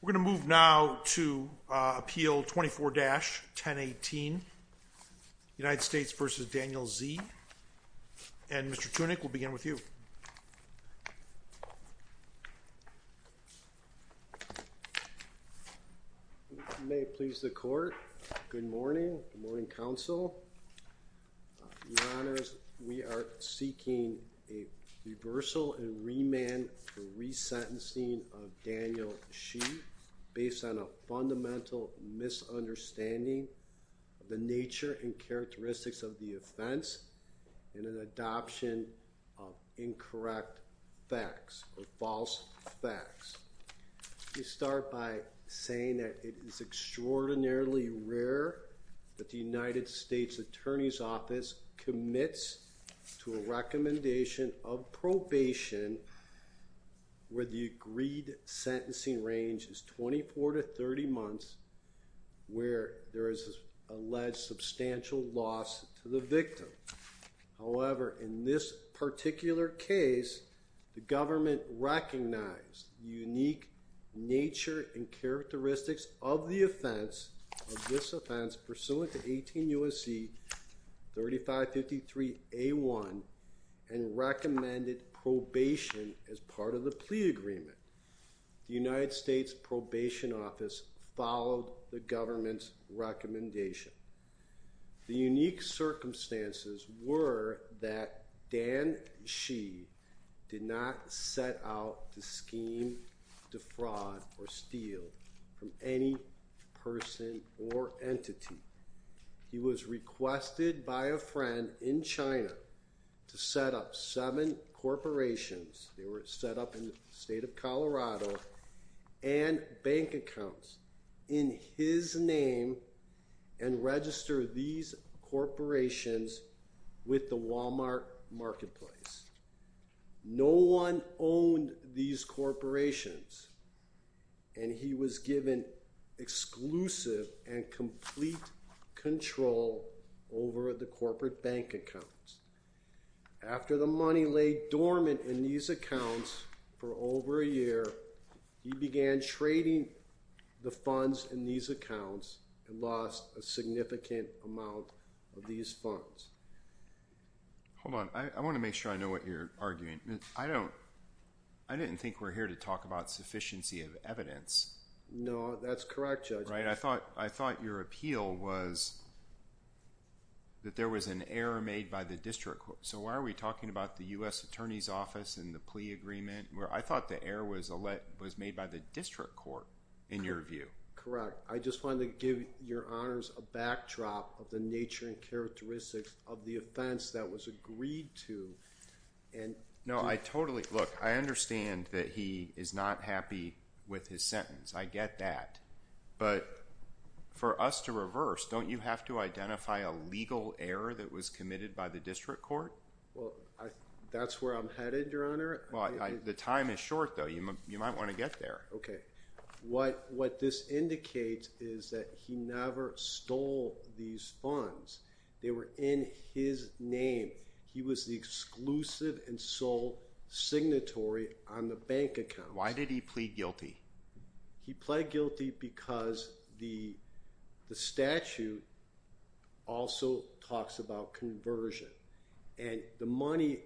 We're going to move now to Appeal 24-1018 United States v. Daniel Xie. And Mr. Tunick, we'll begin with you. You may please the court. Good morning. Good morning, counsel. Your Honors, we are seeking a reversal and remand for resentencing of Daniel Xie based on a fundamental misunderstanding of the nature and characteristics of the offense and an adoption of incorrect facts or false facts. We start by saying that it is extraordinarily rare that the United States Attorney's Office commits to a recommendation of probation where the agreed sentencing range is 24 to 30 months where there is alleged substantial loss to the victim. However, in this particular case, the government recognized the unique nature and characteristics of the offense, of this offense, pursuant to 18 U.S.C. 3553A1 and recommended probation as part of the plea agreement. The United States Probation Office followed the government's recommendation. The unique circumstances were that Dan Xie did not set out to scheme, defraud, or steal from any person or entity. He was requested by a friend in China to set up seven corporations, they were set up in the state of Colorado, and bank accounts in his name and register these corporations with the Walmart marketplace. No one owned these corporations and he was given exclusive and complete control over the corporate bank accounts. After the money lay dormant in these accounts for over a year, he began trading the funds in these accounts and lost a significant amount of these funds. Hold on, I want to make sure I know what you're arguing. I don't, I didn't think we're here to talk about sufficiency of evidence. No, that's correct, Judge. Right, I thought, I thought your appeal was that there was an error made by the district court. So why are we talking about the U.S. Attorney's Office and the plea agreement? I thought the error was made by the district court in your view. Correct. I just wanted to give your honors a backdrop of the nature and characteristics of the offense that was agreed to. No, I totally, look, I understand that he is not happy with his sentence, I get that. But for us to reverse, don't you have to identify a legal error that was committed by the district court? Well, that's where I'm headed, your honor. Well, the time is short though, you might want to get there. Okay. What this indicates is that he never stole these funds. They were in his name. He was the exclusive and sole signatory on the bank account. Why did he plead guilty? He plead guilty because the statute also talks about conversion and the money,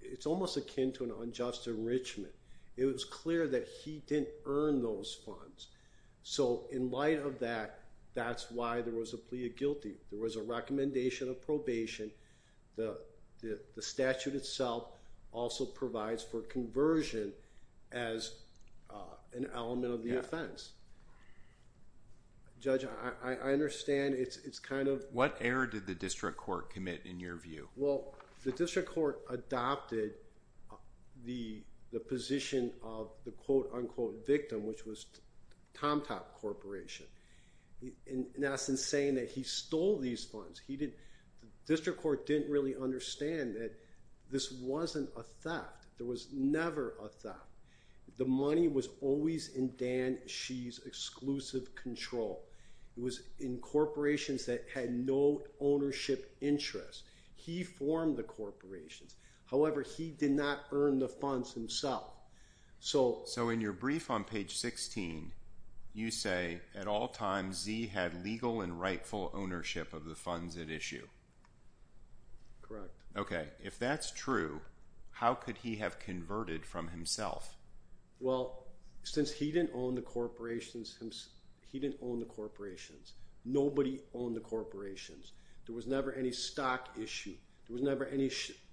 it's almost akin to an unjust enrichment. It was clear that he didn't earn those funds. So in light of that, that's why there was a plea of guilty. There was a recommendation of probation. The statute itself also provides for conversion as an element of the offense. Judge, I understand it's kind of- What error did the district court commit in your view? Well, the district court adopted the position of the quote unquote victim, which was Tomtop Corporation. And that's in saying that he stole these funds. The district court didn't really understand that this wasn't a theft. There was never a theft. The money was always in Dan Shih's exclusive control. It was in corporations that had no ownership interest. He formed the corporations. However, he did not earn the funds himself. So in your brief on page 16, you say, at all times, Z had legal and rightful ownership of the funds at issue. Okay. If that's true, how could he have converted from himself? Well, since he didn't own the corporations, nobody owned the corporations. There was never any stock issue. There was never any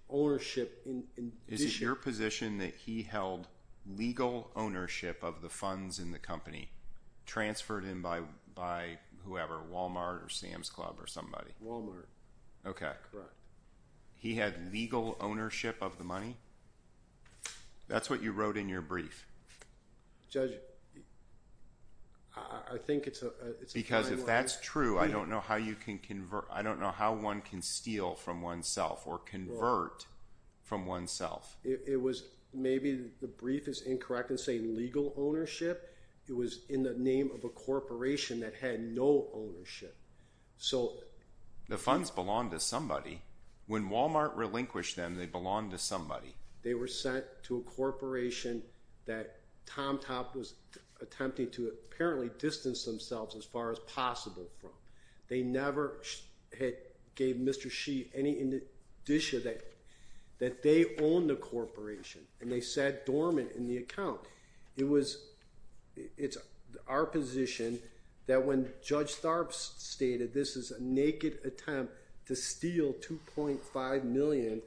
ownership in this- Is it your position that he held legal ownership of the funds in the company, transferred him by whoever, Walmart or Sam's Club or somebody? Okay. Correct. He had legal ownership of the money? That's what you wrote in your brief. Judge, I think it's a- Because if that's true, I don't know how you can convert. I don't know how one can steal from oneself or convert from oneself. It was maybe the brief is incorrect in saying legal ownership. It was in the name of a corporation that had no ownership. So- The funds belong to somebody. When Walmart relinquished them, they belonged to somebody. They were sent to a corporation that Tom Top was attempting to apparently distance themselves as far as possible from. They never had gave Mr. Shee any in addition that they owned the corporation and they sat dormant in the account. It was- It's our position that when Judge Tharpe stated this is a naked attempt to steal $2.5 million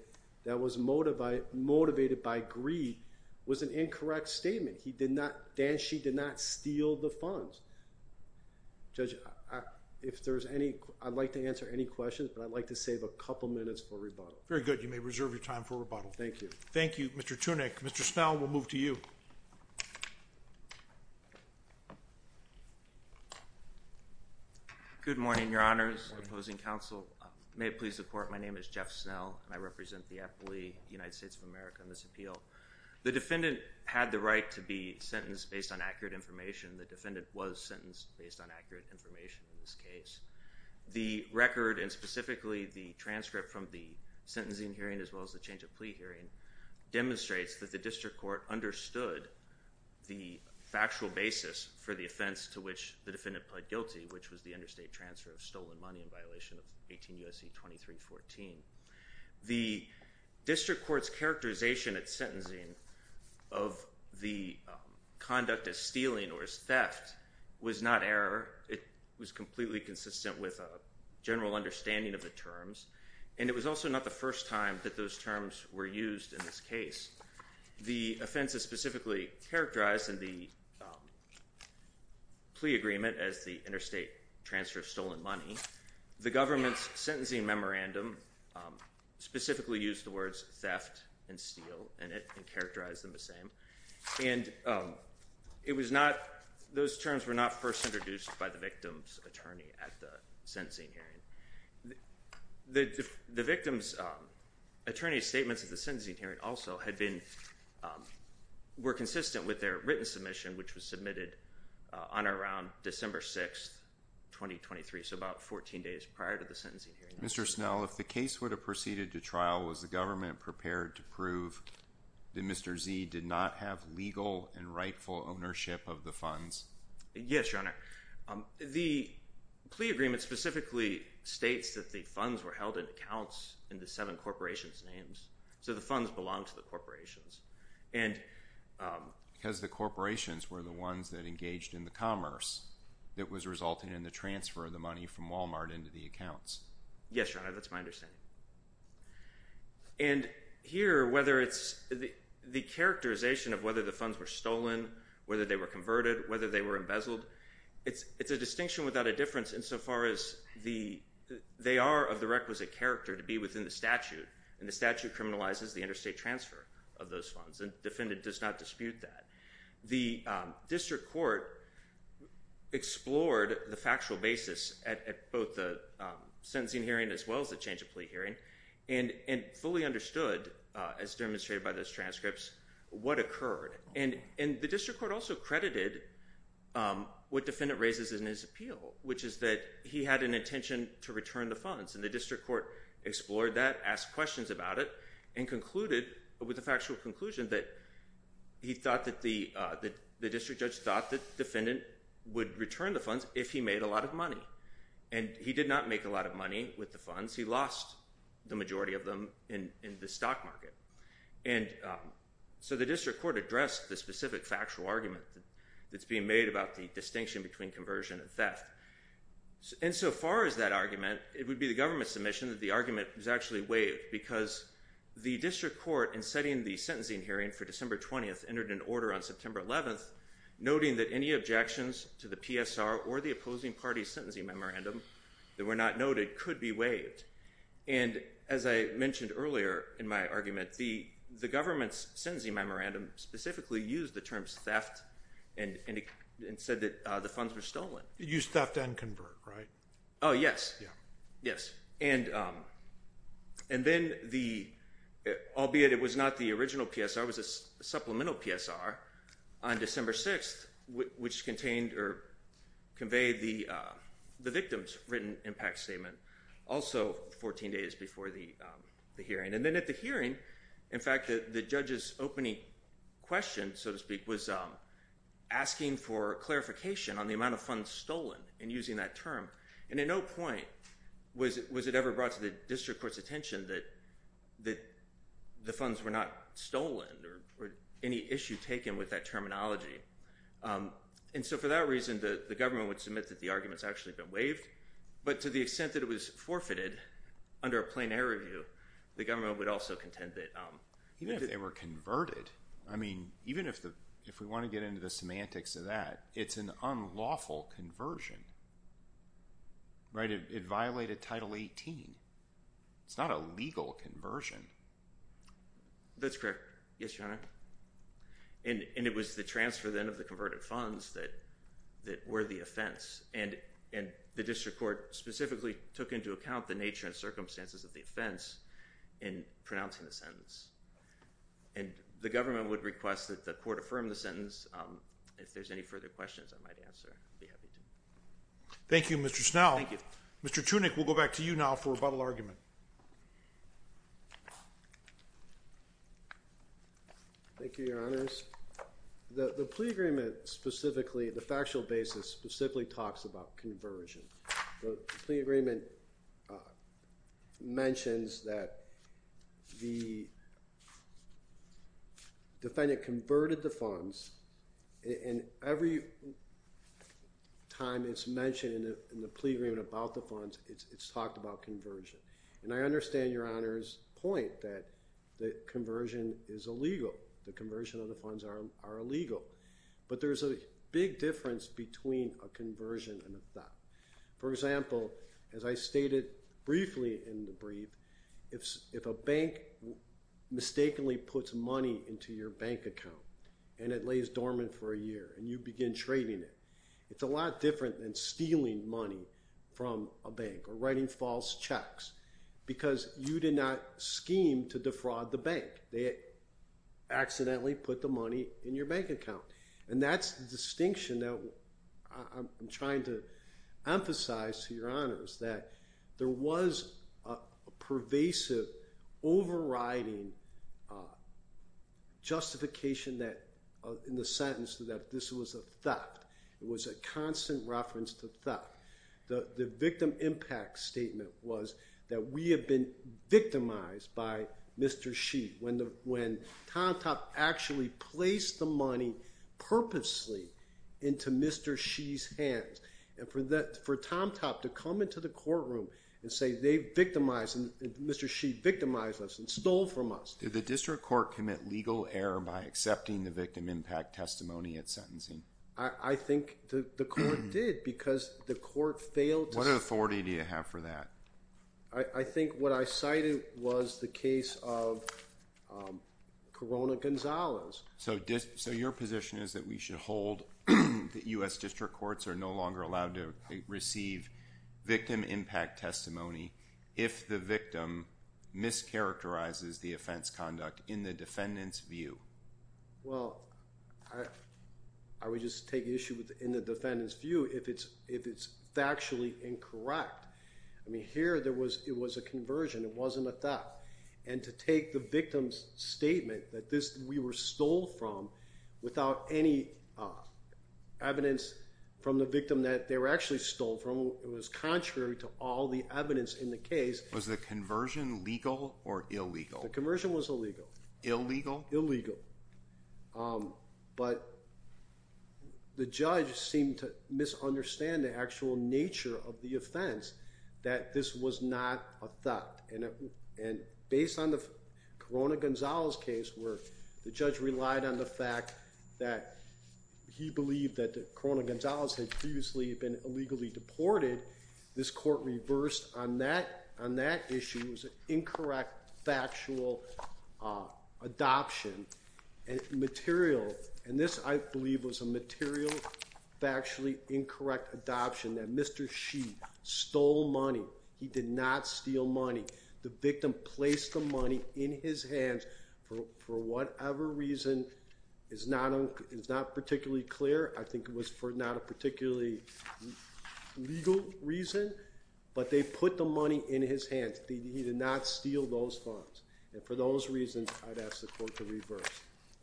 that was motivated by greed was an incorrect statement. He did not- Dan Shee did not steal the funds. Judge, if there's any- I'd like to answer any questions, but I'd like to save a couple minutes for rebuttal. Very good. You may reserve your time for rebuttal. Thank you. Thank you, Mr. Tunick. Mr. Snell, we'll move to you. Good morning, Your Honors. Opposing counsel. May it please the Court. My name is Jeff Snell and I represent the affidavit of the United States of America in this appeal. The defendant had the right to be sentenced based on accurate information. The defendant was sentenced based on accurate information. The record and specifically the transcript from the sentencing hearing as well as the change of plea hearing demonstrates that the district court understood the factual basis for the offense to which the defendant pled guilty, which was the interstate transfer of stolen money in violation of 18 U.S.C. 2314. The district court's characterization at sentencing of the conduct as stealing or as theft was not error. It was completely consistent with a general understanding of the terms, and it was also not the first time that those terms were used in this case. The offense is specifically characterized in the plea agreement as the interstate transfer of stolen money. The government's sentencing memorandum specifically used the words theft and steal in it and characterized them the same, and it was not, those terms were not first introduced by the victim's attorney at the sentencing hearing. The victim's attorney's statements at the sentencing hearing also had been, were consistent with their written submission, which was submitted on or around December 6th, 2023, so about 14 days prior to the sentencing hearing. Mr. Snell, if the case would have proceeded to trial, was the government prepared to prove that Mr. Z did not have legal and rightful ownership of the funds? Yes, Your Honor. The plea agreement specifically states that the funds were held in accounts in the seven corporations' names, so the funds belonged to the corporations. Because the corporations were the ones that engaged in the commerce that was resulting in the transfer of the money from Walmart into the accounts. Yes, Your Honor, that's my understanding. And here, whether it's the characterization of whether the funds were stolen, whether they were converted, whether they were embezzled, it's a distinction without a difference insofar as they are of the requisite character to be within the statute, and the statute criminalizes the interstate transfer of those funds, and the defendant does not dispute that. The district court explored the factual basis at both the sentencing hearing as well as the change of plea hearing, and fully understood, as demonstrated by those transcripts, what occurred. And the district court also credited what defendant raises in his appeal, which is that he had an intention to return the funds, and the district court explored that, asked questions about it, and concluded, with a factual conclusion, that he thought that the district judge thought that the defendant would return the funds if he made a lot of money. And he did not make a lot of money with the funds. He lost the majority of them in the stock market. And so the district court addressed the specific factual argument that's being made about the distinction between conversion and theft. Insofar as that argument, it would be the government's submission that the argument was actually waived, because the district court, in setting the sentencing hearing for December 20th, entered an order on September 11th, noting that any objections to the PSR or the opposing party's sentencing memorandum that were not noted could be waived. And as I mentioned earlier in my argument, the government's sentencing memorandum specifically used the terms theft and said that the funds were stolen. It used theft and convert, right? Oh, yes. Yeah. Yes. Yes. Yes. And then, albeit it was not the original PSR, it was a supplemental PSR on December 6th, which contained or conveyed the victim's written impact statement, also 14 days before the And then at the hearing, in fact, the judge's opening question, so to speak, was asking for clarification on the amount of funds stolen and using that term. And at no point was it ever brought to the district court's attention that the funds were not stolen or any issue taken with that terminology. And so for that reason, the government would submit that the argument's actually been waived. But to the extent that it was forfeited under a plain-air review, the government would also contend that... Even if they were converted, I mean, even if we want to get into the semantics of that, it's an unlawful conversion, right? It violated Title 18. It's not a legal conversion. That's correct. Yes, Your Honor. And it was the transfer, then, of the converted funds that were the offense. And the district court specifically took into account the nature and circumstances of the offense in pronouncing the sentence. And the government would request that the court affirm the sentence. If there's any further questions I might answer, I'd be happy to. Thank you, Mr. Snell. Thank you. Mr. Tunick, we'll go back to you now for rebuttal argument. Thank you, Your Honors. The plea agreement specifically, the factual basis specifically talks about conversion. The plea agreement mentions that the defendant converted the funds, and every time it's mentioned in the plea agreement about the funds, it's talked about conversion. And I understand Your Honor's point that the conversion is illegal. The conversion of the funds are illegal. But there's a big difference between a conversion and a theft. For example, as I stated briefly in the brief, if a bank mistakenly puts money into your bank account, and it lays dormant for a year, and you begin trading it, it's a lot different than stealing money from a bank or writing false checks. Because you did not scheme to defraud the bank. They accidentally put the money in your bank account. And that's the distinction that I'm trying to emphasize to Your Honors, that there was a pervasive overriding justification that, in the sentence, that this was a theft. It was a constant reference to theft. The victim impact statement was that we have been victimized by Mr. Shee, when Tom Top actually placed the money purposely into Mr. Shee's hands. And for Tom Top to come into the courtroom and say they've victimized, Mr. Shee victimized us and stole from us. Did the district court commit legal error by accepting the victim impact testimony at I think the court did, because the court failed to... What authority do you have for that? I think what I cited was the case of Corona Gonzalez. So your position is that we should hold that U.S. district courts are no longer allowed to receive victim impact testimony if the victim mischaracterizes the offense conduct in the defendant's view? Well, I would just take issue in the defendant's view if it's factually incorrect. I mean, here it was a conversion. It wasn't a theft. And to take the victim's statement that we were stole from without any evidence from the victim that they were actually stole from, it was contrary to all the evidence in the case. Was the conversion legal or illegal? The conversion was illegal. Illegal? Illegal. But the judge seemed to misunderstand the actual nature of the offense, that this was not a theft. And based on the Corona Gonzalez case, where the judge relied on the fact that he believed that Corona Gonzalez had previously been illegally deported, this court reversed on that issue as an incorrect factual adoption and material. And this, I believe, was a material factually incorrect adoption that Mr. She stole money. He did not steal money. The victim placed the money in his hands for whatever reason is not particularly clear. I think it was for not a particularly legal reason. But they put the money in his hands. He did not steal those funds. And for those reasons, I'd ask the court to reverse.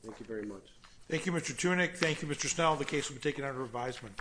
Thank you very much. Thank you, Mr. Tunick. Thank you, Mr. Snell. The case will be taken under revisement.